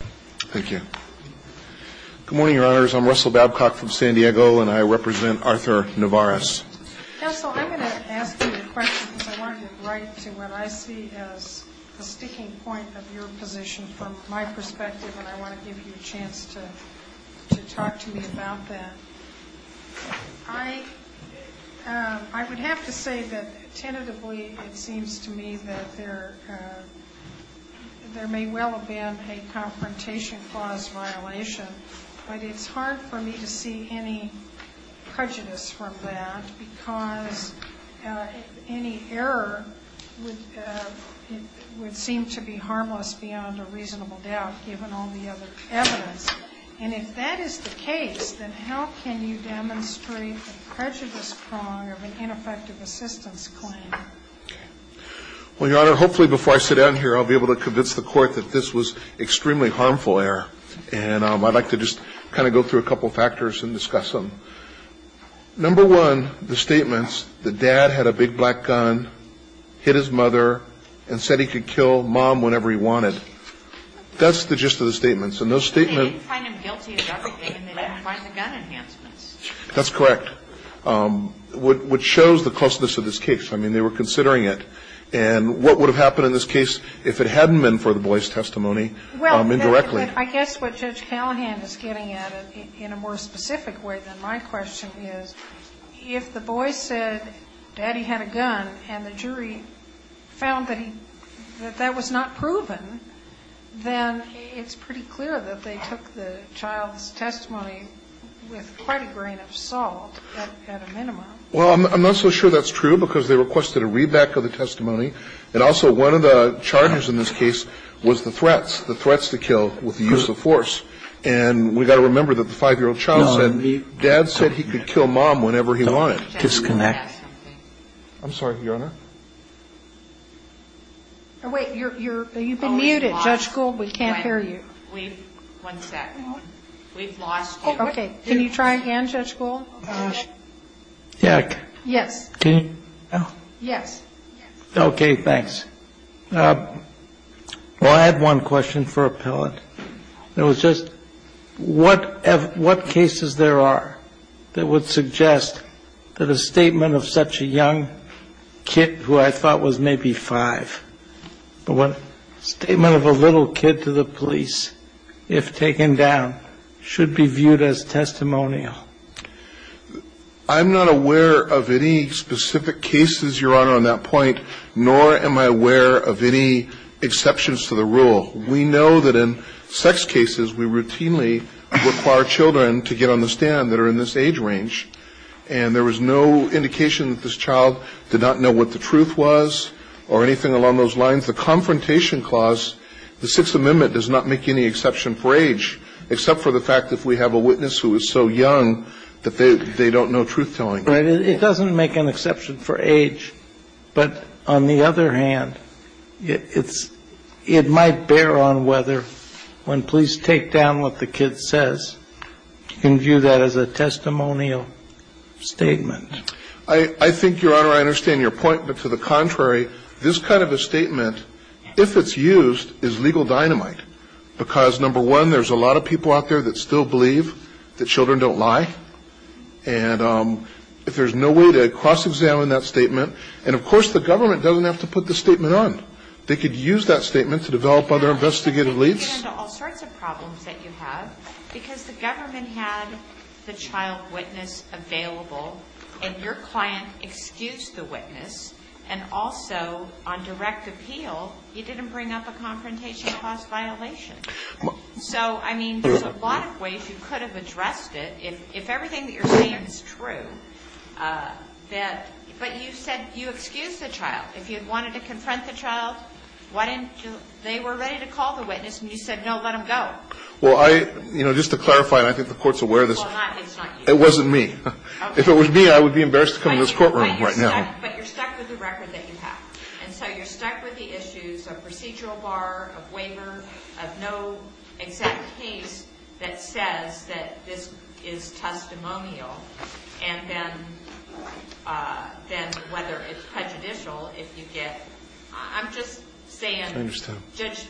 Thank you. Good morning, Your Honors. I'm Russell Babcock from San Diego, and I represent Arthur Nevarez. Counsel, I'm going to ask you a question because I want to get right to what I see as the sticking point of your position from my perspective, and I want to give you a chance to talk to me about that. I would have to say that tentatively it seems to me that there may well have been a conference about a presentation clause violation, but it's hard for me to see any prejudice from that because any error would seem to be harmless beyond a reasonable doubt, given all the other evidence. And if that is the case, then how can you demonstrate a prejudice prong of an ineffective assistance claim? Well, Your Honor, hopefully before I sit down here I'll be able to convince the And I'd like to just kind of go through a couple of factors and discuss them. Number one, the statements, the dad had a big black gun, hit his mother, and said he could kill mom whenever he wanted. That's the gist of the statements. And those statements They didn't find him guilty of anything, and they didn't find the gun enhancements. That's correct, which shows the closeness of this case. I mean, they were considering it. And what would have happened in this case if it hadn't been for the boy's testimony indirectly? Well, I guess what Judge Callahan is getting at it in a more specific way than my question is, if the boy said daddy had a gun and the jury found that that was not proven, then it's pretty clear that they took the child's testimony with quite a grain of salt at a minimum. Well, I'm not so sure that's true, because they requested a readback of the testimony. And also, one of the charges in this case was the threats, the threats to kill with the use of force. And we've got to remember that the 5-year-old child said dad said he could kill mom whenever he wanted. Disconnect. I'm sorry, Your Honor. Wait, you're, you've been muted, Judge Gould. We can't hear you. One second. We've lost you. Okay. Can you try again, Judge Gould? Yeah. Yes. Can you? Yes. Okay, thanks. Well, I have one question for appellant. It was just what cases there are that would suggest that a statement of such a young kid who I thought was maybe 25, a statement of a little kid to the police, if taken down, should be viewed as testimonial? I'm not aware of any specific cases, Your Honor, on that point, nor am I aware of any exceptions to the rule. We know that in sex cases, we routinely require children to get on the stand that are in this age range, and there was no indication that this child did not know what the truth was or anything along those lines. The Confrontation Clause, the Sixth Amendment, does not make any exception for age, except for the fact that if we have a witness who is so young that they don't know truth-telling. It doesn't make an exception for age, but on the other hand, it might bear on whether when police take down what the kid says, you can view that as a testimonial statement. I think, Your Honor, I understand your point, but to the contrary, this kind of a statement, if it's used, is legal dynamite, because, number one, there's a lot of people out there that still believe that children don't lie, and if there's no way to cross-examine that statement, and of course, the government doesn't have to put the statement on. They could use that statement to develop other investigative leads. But you get into all sorts of problems that you have, because the government had the child witness available, and your client excused the witness, and also, on direct appeal, you didn't bring up a Confrontation Clause violation. So, I mean, there's a lot of ways you could have addressed it, if everything that you're saying is true. But you said you excused the child. If you wanted to confront the child, why didn't you? They were ready to call the witness, and you said, no, let him go. Well, I, you know, just to clarify, and I think the Court's aware of this. Well, it's not you. It wasn't me. If it was me, I would be embarrassed to come to this courtroom right now. But you're stuck with the record that you have. And so you're stuck with the issues of procedural bar, of waiver, of no exact case that says that this is testimonial, and then whether it's prejudicial if you get. I'm just saying, Judge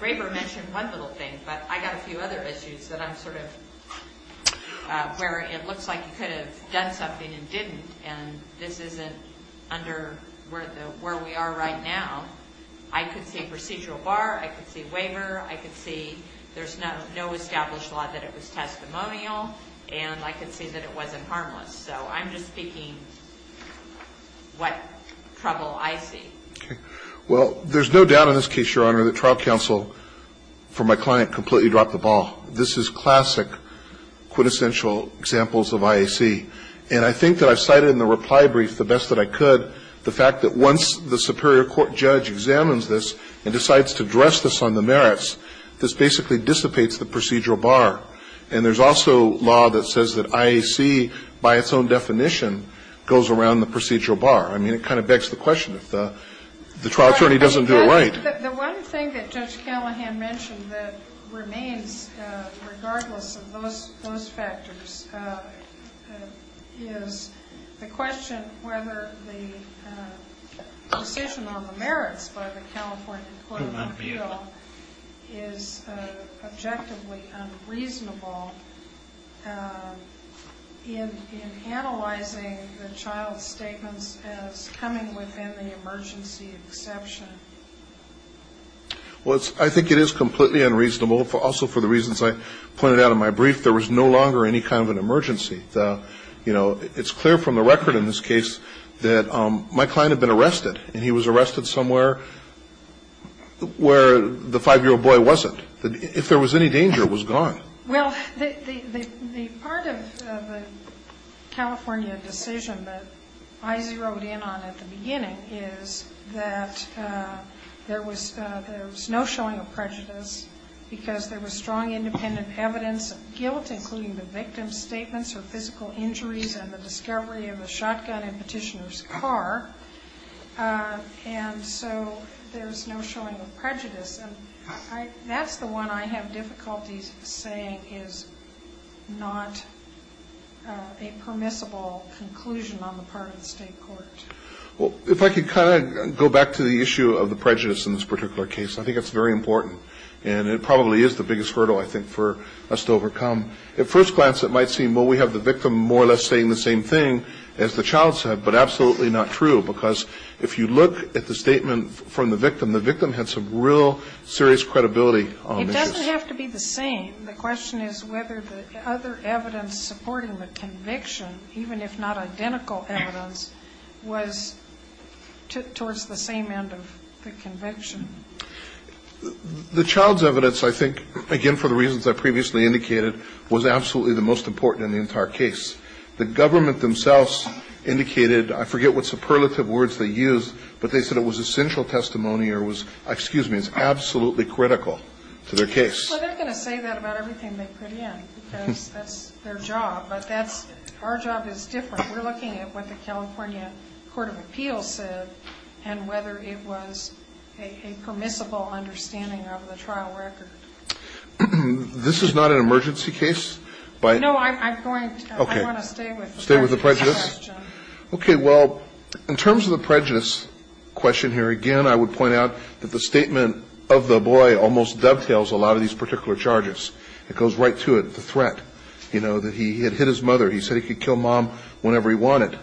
Graber mentioned one little thing, but I got a few other issues that I'm sort of, where it looks like you could have done something and didn't, and this isn't under where we are right now. I could see procedural bar. I could see waiver. I could see there's no established law that it was testimonial, and I could see that it wasn't harmless. So I'm just speaking what trouble I see. Okay. Well, there's no doubt in this case, Your Honor, that trial counsel, for my client, completely dropped the ball. This is classic quintessential examples of IAC. And I think that I've cited in the reply brief the best that I could the fact that once the superior court judge examines this and decides to dress this on the merits, this basically dissipates the procedural bar. And there's also law that says that IAC, by its own definition, goes around the procedural bar. I mean, it kind of begs the question, if the trial attorney doesn't do it right. The one thing that Judge Callahan mentioned that remains, regardless of those factors, is the question whether the decision on the merits by the California Employment Bill is objectively unreasonable in analyzing the child's statements as coming within the emergency exception. Well, I think it is completely unreasonable, also for the reasons I pointed out in my brief. There was no longer any kind of an emergency. You know, it's clear from the record in this case that my client had been arrested, and he was arrested somewhere where the 5-year-old boy wasn't. If there was any danger, it was gone. Well, the part of the California decision that I zeroed in on at the beginning is that there was no showing of prejudice because there was strong independent evidence of guilt, including the victim's statements or physical injuries and the discovery of a shotgun in Petitioner's car. And so there's no showing of prejudice. And that's the one I have difficulties saying is not a permissible conclusion on the part of the state court. Well, if I could kind of go back to the issue of the prejudice in this particular case, I think it's very important, and it probably is the biggest hurdle, I think, for us to overcome. At first glance, it might seem, well, we have the victim more or less saying the same thing as the child said, but absolutely not true, because if you look at the statement from the victim, the victim had some real serious credibility on the issue. It doesn't have to be the same. The question is whether the other evidence supporting the conviction, even if not identical evidence, was towards the same end of the conviction. The child's evidence, I think, again, for the reasons I previously indicated, was absolutely the most important in the entire case. The government themselves indicated, I forget what superlative words they used, but they said it was essential testimony or was, excuse me, it's absolutely critical to their case. Well, they're going to say that about everything they put in, because that's their job. But that's, our job is different. We're looking at what the California Court of Appeals said and whether it was a permissible understanding of the trial record. This is not an emergency case? No, I want to stay with the prejudice question. Okay, well, in terms of the prejudice question here, again, I would point out that the statement of the boy almost dovetails a lot of these particular charges. It goes right to it, the threat, you know, that he had hit his mother. He said he could kill mom whenever he wanted.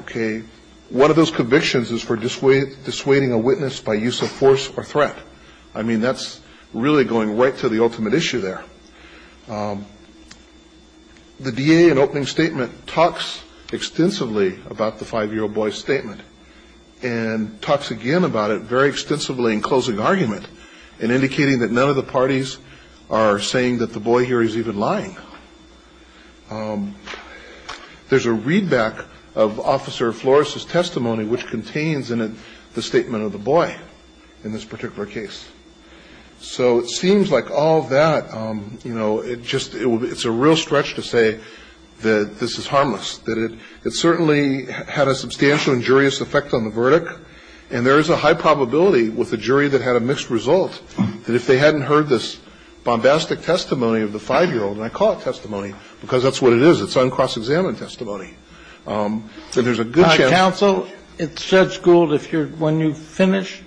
Okay, one of those convictions is for dissuading a witness by use of force or threat. I mean, that's really going right to the ultimate issue there. The DA in opening statement talks extensively about the five-year-old boy's statement and talks again about it very extensively in closing argument and indicating that none of the parties are saying that the boy here is even lying. There's a readback of Officer Flores' testimony, which contains in it the statement of the boy in this particular case. So it seems like all that, you know, it just, it's a real stretch to say that this is harmless, that it certainly had a substantial injurious effect on the verdict, and there is a high probability with a jury that had a mixed result that if they hadn't heard this bombastic testimony of the five-year-old, and I call it testimony because that's what it is, it's uncross-examined testimony, that there's a good chance that the judge would have said something. Kennedy. Counsel, Judge Gould, if you're, when you finish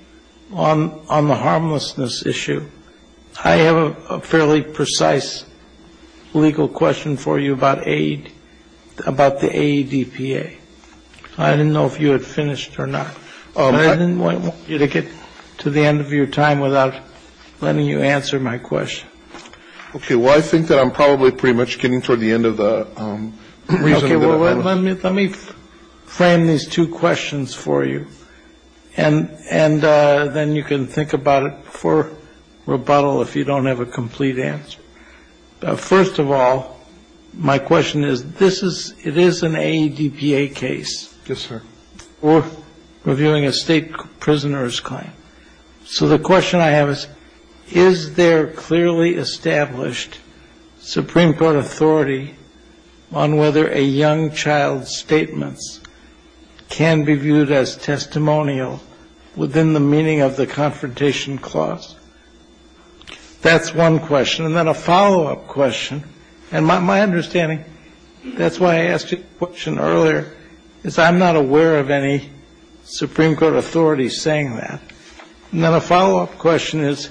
on the harmlessness issue, I have a fairly precise legal question for you about aid, about the AEDPA. I didn't know if you had finished or not. I didn't want you to get to the end of your time without letting you answer my question. Okay. Well, I think that I'm probably pretty much getting toward the end of the reason that I'm going to. Okay. Well, let me frame these two questions for you, and then you can think about it for rebuttal if you don't have a complete answer. First of all, my question is, this is, it is an AEDPA case. Yes, sir. We're reviewing a state prisoner's claim. So the question I have is, is there clearly established Supreme Court authority on whether a young child's statements can be viewed as testimonial within the meaning of the confrontation clause? That's one question. And then a follow-up question, and my understanding, that's why I asked you the question earlier, is I'm not aware of any Supreme Court authority saying that. And then a follow-up question is,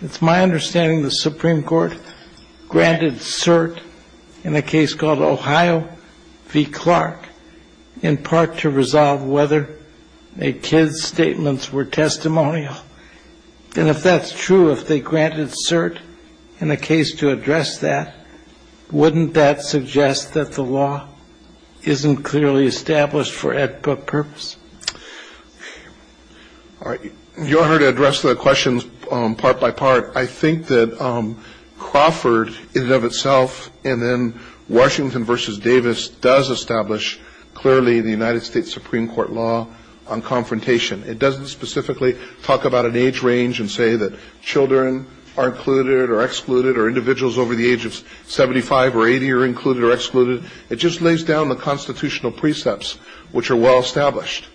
it's my understanding the Supreme Court granted cert in a case called Ohio v. Clark in part to resolve whether a kid's statements were testimonial. And if that's true, if they granted cert in a case to address that, wouldn't that suggest that the law isn't clearly established for AEDPA purpose? Your Honor, to address the questions part by part, I think that Crawford in and of itself, and then Washington v. Davis does establish clearly the United States Supreme Court law on confrontation. It doesn't specifically talk about an age range and say that children are included or excluded or individuals over the age of 75 or 80 are included or excluded. It just lays down the constitutional precepts, which are well established.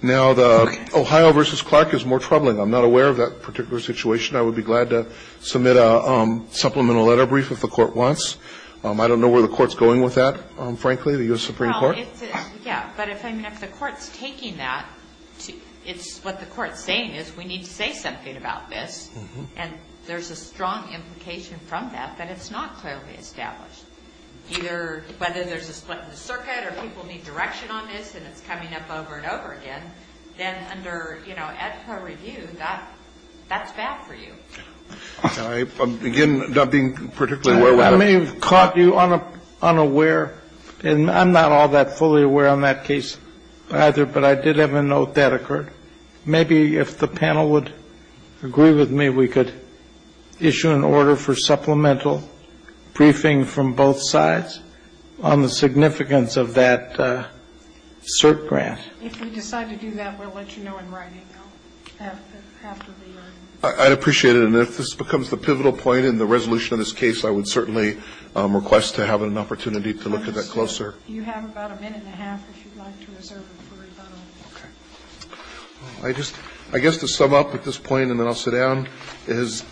Now, the Ohio v. Clark is more troubling. I'm not aware of that particular situation. I would be glad to submit a supplemental letter brief if the Court wants. I don't know where the Court's going with that, frankly, the U.S. Supreme Court. Well, yeah, but if the Court's taking that, it's what the Court's saying is we need to say something about this. And there's a strong implication from that that it's not clearly established. Either whether there's a split in the circuit or people need direction on this and it's coming up over and over again, then under, you know, AEDPA review, that's bad for you. Can I begin not being particularly aware of that? I may have caught you unaware, and I'm not all that fully aware on that case either, but I did have a note that occurred. Maybe if the panel would agree with me, we could issue an order for supplemental briefing from both sides on the significance of that cert grant. If we decide to do that, we'll let you know in writing. I'd appreciate it. And if this becomes the pivotal point in the resolution of this case, I would certainly request to have an opportunity to look at that closer. You have about a minute and a half if you'd like to reserve it for rebuttal. Okay. I just, I guess to sum up at this point, and then I'll sit down, is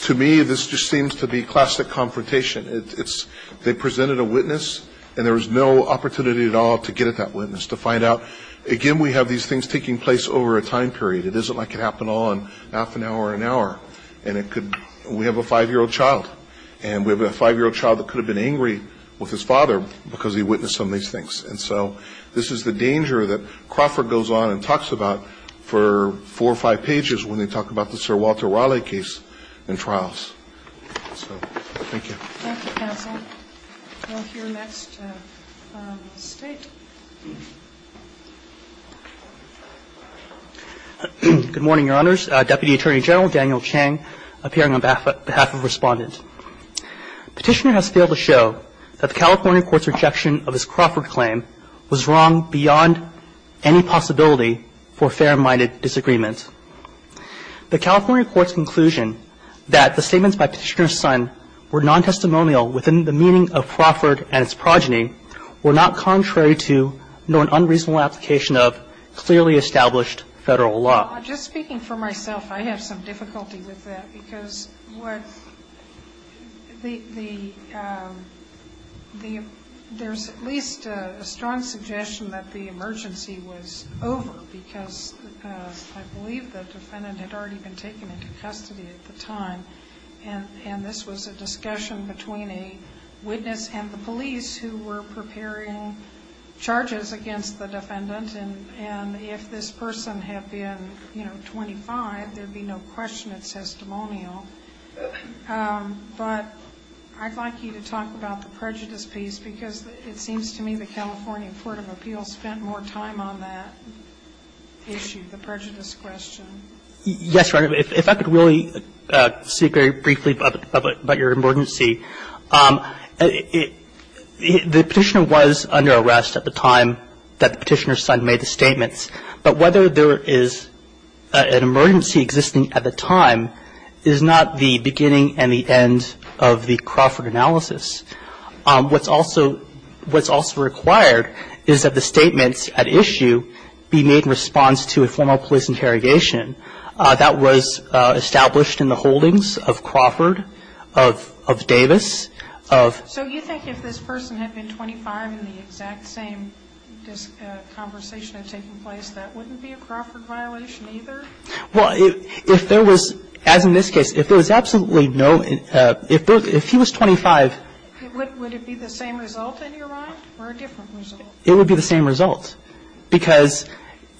to me, this just seems to be classic confrontation. It's, they presented a witness, and there was no opportunity at all to get at that witness, to find out, again, we have these things taking place over a time period. It isn't like it happened all in half an hour or an hour, and it could, we have a 5-year-old child, and we have a 5-year-old child that could have been angry with his father because he witnessed some of these things. And so this is the danger that Crawford goes on and talks about for 4 or 5 pages when they talk about the Sir Walter Raleigh case in trials. So thank you. Thank you, counsel. We'll hear next State. Good morning, Your Honors. Deputy Attorney General Daniel Chang appearing on behalf of Respondent. Petitioner has failed to show that the California court's rejection of his Crawford claim was wrong beyond any possibility for fair-minded disagreement. The California court's conclusion that the statements by Petitioner's son were non-testimonial within the meaning of Crawford and its progeny were not contrary to nor an unreasonable application of clearly established Federal law. Well, just speaking for myself, I have some difficulty with that because what the there's at least a strong suggestion that the emergency was over because I believe the defendant had already been taken into custody at the time, and this was a discussion between a witness and the police who were preparing charges against the defendant. And if this person had been, you know, 25, there would be no question it's testimonial. But I'd like you to talk about the prejudice piece because it seems to me the California court of appeals spent more time on that issue, the prejudice question. Yes, Your Honor. If I could really speak very briefly about your emergency. The Petitioner was under arrest at the time that the Petitioner's son made the statements, but whether there is an emergency existing at the time is not the beginning and the end of the Crawford analysis. What's also required is that the statements at issue be made in response to a formal police interrogation that was established in the holdings of Crawford, of Davis. So you think if this person had been 25 and the exact same conversation had taken place, that wouldn't be a Crawford violation either? Well, if there was, as in this case, if there was absolutely no, if he was 25. Would it be the same result, in your mind, or a different result? It would be the same result. Because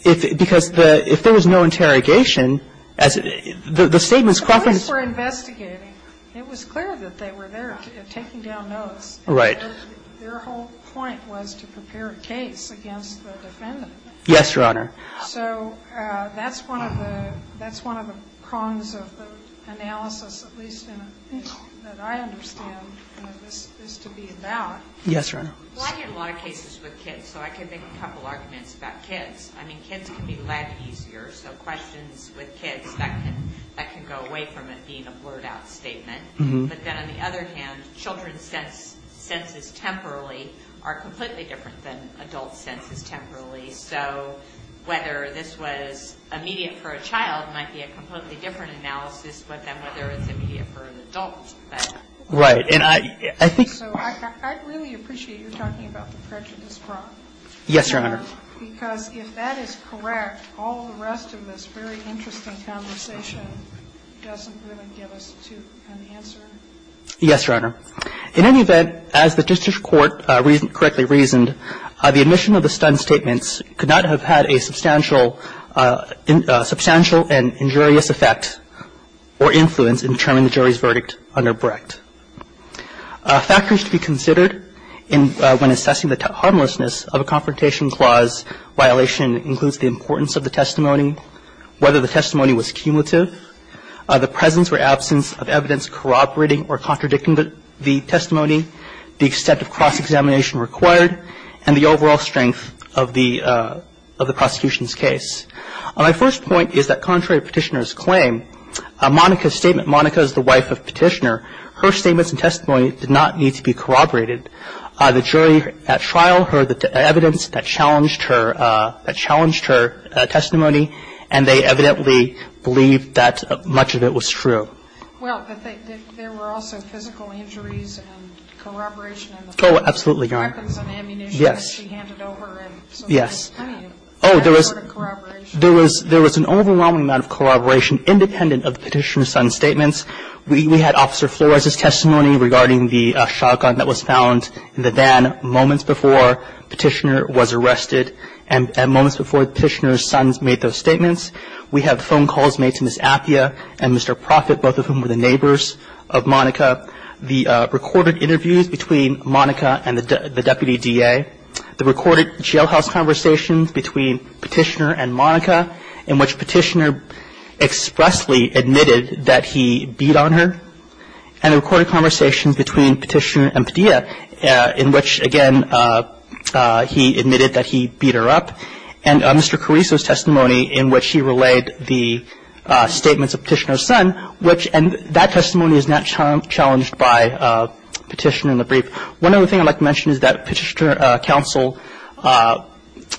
if there was no interrogation, as the statements Crawford. The police were investigating. It was clear that they were there taking down notes. Right. Their whole point was to prepare a case against the defendant. Yes, Your Honor. So that's one of the, that's one of the prongs of the analysis, at least in a way that I understand this to be about. Yes, Your Honor. Well, I get a lot of cases with kids, so I can make a couple arguments about kids. I mean, kids can be led easier. So questions with kids, that can go away from it being a blurred out statement. But then on the other hand, children's senses temporally are completely different than adult senses temporally. So whether this was immediate for a child might be a completely different analysis than whether it's immediate for an adult. Right. And I think So I really appreciate you talking about the prejudice prong. Yes, Your Honor. Because if that is correct, all the rest of this very interesting conversation doesn't really give us an answer. Yes, Your Honor. In any event, as the district court correctly reasoned, the admission of the stunned statements could not have had a substantial and injurious effect or influence in determining the jury's verdict under Brecht. Factors to be considered when assessing the harmlessness of a confrontation clause violation includes the importance of the testimony, whether the testimony was cumulative, the presence or absence of evidence corroborating or contradicting the testimony, the extent of cross-examination required, and the overall strength of the prosecution's case. My first point is that contrary to Petitioner's claim, Monica's statement, Monica is the wife of Petitioner. Her statements and testimony did not need to be corroborated. The jury at trial heard the evidence that challenged her testimony, and they evidently believed that much of it was true. Well, but there were also physical injuries and corroboration. Oh, absolutely, Your Honor. Weapons and ammunition that she handed over. Yes. Oh, there was an overwhelming amount of corroboration independent of Petitioner's son's statements. We had Officer Flores's testimony regarding the shotgun that was found in the van moments before Petitioner was arrested and moments before Petitioner's son made those statements. We have phone calls made to Ms. Appiah and Mr. Profitt, both of whom were the neighbors of Monica. The recorded interviews between Monica and the deputy DA, the recorded jailhouse conversations between Petitioner and Monica in which Petitioner expressly admitted that he beat on her, and the recorded conversations between Petitioner and Padilla in which, again, he admitted that he beat her up, and Mr. Caruso's testimony in which he relayed the statements of Petitioner's son, which that testimony So I think there's a lot of evidence there. One other thing I'd like to mention is that Petitioner counsel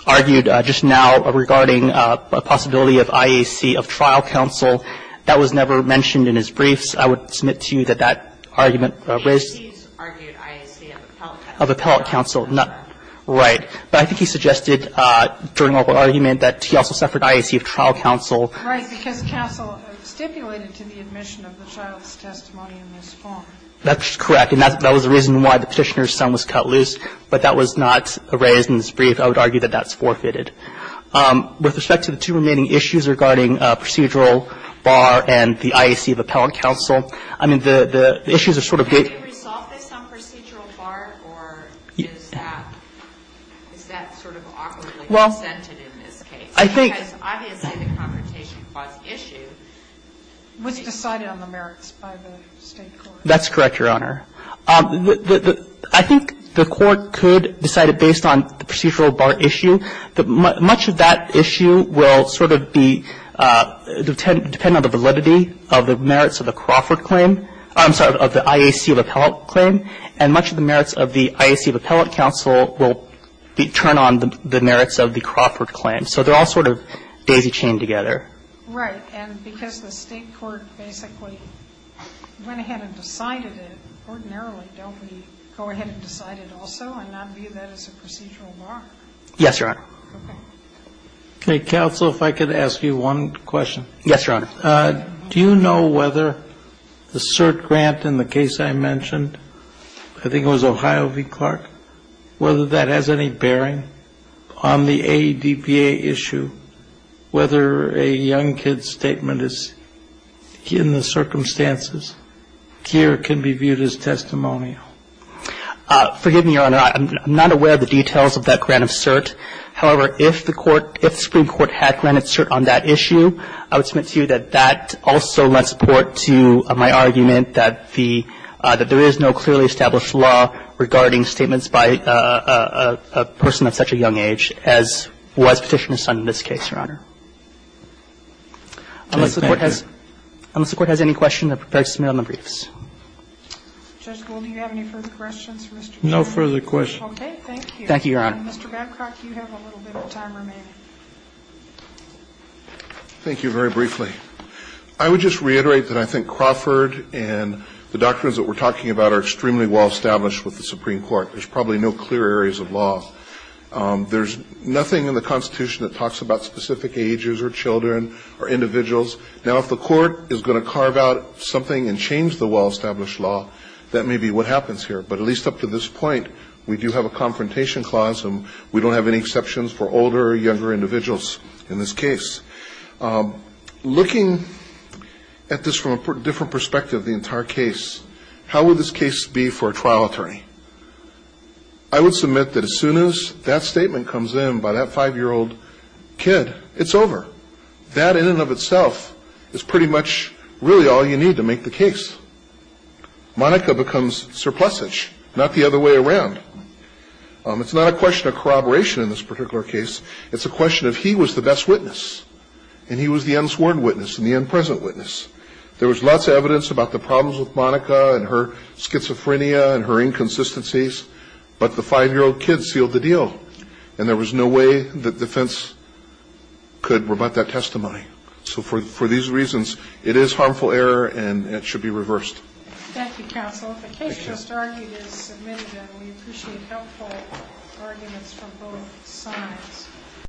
argued just now regarding a possibility of IAC of trial counsel. That was never mentioned in his briefs. I would submit to you that that argument raised of appellate counsel. Right. But I think he suggested during our argument that he also suffered IAC of trial counsel. Right, because counsel stipulated to the admission of the child's testimony in this form. That's correct. And that was the reason why the Petitioner's son was cut loose, but that was not raised in his brief. I would argue that that's forfeited. With respect to the two remaining issues regarding procedural bar and the IAC of appellate counsel, I mean, the issues are sort of big. Can you resolve this on procedural bar, or is that sort of awkwardly presented in this case? Because obviously the confrontation clause issue was decided on the merits by the State court. That's correct, Your Honor. I think the Court could decide it based on the procedural bar issue. Much of that issue will sort of be dependent on the validity of the merits of the Crawford claim. I'm sorry, of the IAC of appellate claim. And much of the merits of the IAC of appellate counsel will turn on the merits of the Crawford claim. So they're all sort of daisy-chained together. Right. And because the State court basically went ahead and decided it, ordinarily don't we go ahead and decide it also and not view that as a procedural bar? Yes, Your Honor. Okay. Okay. Counsel, if I could ask you one question. Yes, Your Honor. Do you know whether the cert grant in the case I mentioned, I think it was Ohio v. Crawford, was a grant of cert on the issue, whether a young kid's statement in the circumstances here can be viewed as testimonial? Forgive me, Your Honor. I'm not aware of the details of that grant of cert. However, if the Supreme Court had granted cert on that issue, I would submit to you that that also led support to my argument that there is no clearly established law regarding statements by a person of such a young age as was petitioned in this case, Your Honor. Thank you. Unless the Court has any questions, I would prefer to submit on the briefs. Judge Gould, do you have any further questions for Mr. Gould? No further questions. Okay, thank you. Thank you, Your Honor. Mr. Babcock, you have a little bit of time remaining. Thank you very briefly. I would just reiterate that I think Crawford and the doctrines that we're talking about are extremely well-established with the Supreme Court. There's probably no clear areas of law. There's nothing in the Constitution that talks about specific ages or children or individuals. Now, if the Court is going to carve out something and change the well-established law, that may be what happens here. But at least up to this point, we do have a confrontation clause, and we don't have any exceptions for older or younger individuals in this case. Looking at this from a different perspective, the entire case, how would this case be for a trial attorney? I would submit that as soon as that statement comes in by that 5-year-old kid, it's over. That in and of itself is pretty much really all you need to make the case. Monica becomes surplusage, not the other way around. It's not a question of corroboration in this particular case. It's a question of he was the best witness. And he was the unsworn witness and the unpresent witness. There was lots of evidence about the problems with Monica and her schizophrenia and her inconsistencies, but the 5-year-old kid sealed the deal. And there was no way that defense could rebut that testimony. So for these reasons, it is harmful error, and it should be reversed. Thank you, counsel. If the case just argued is submitted, then we appreciate helpful arguments from both sides.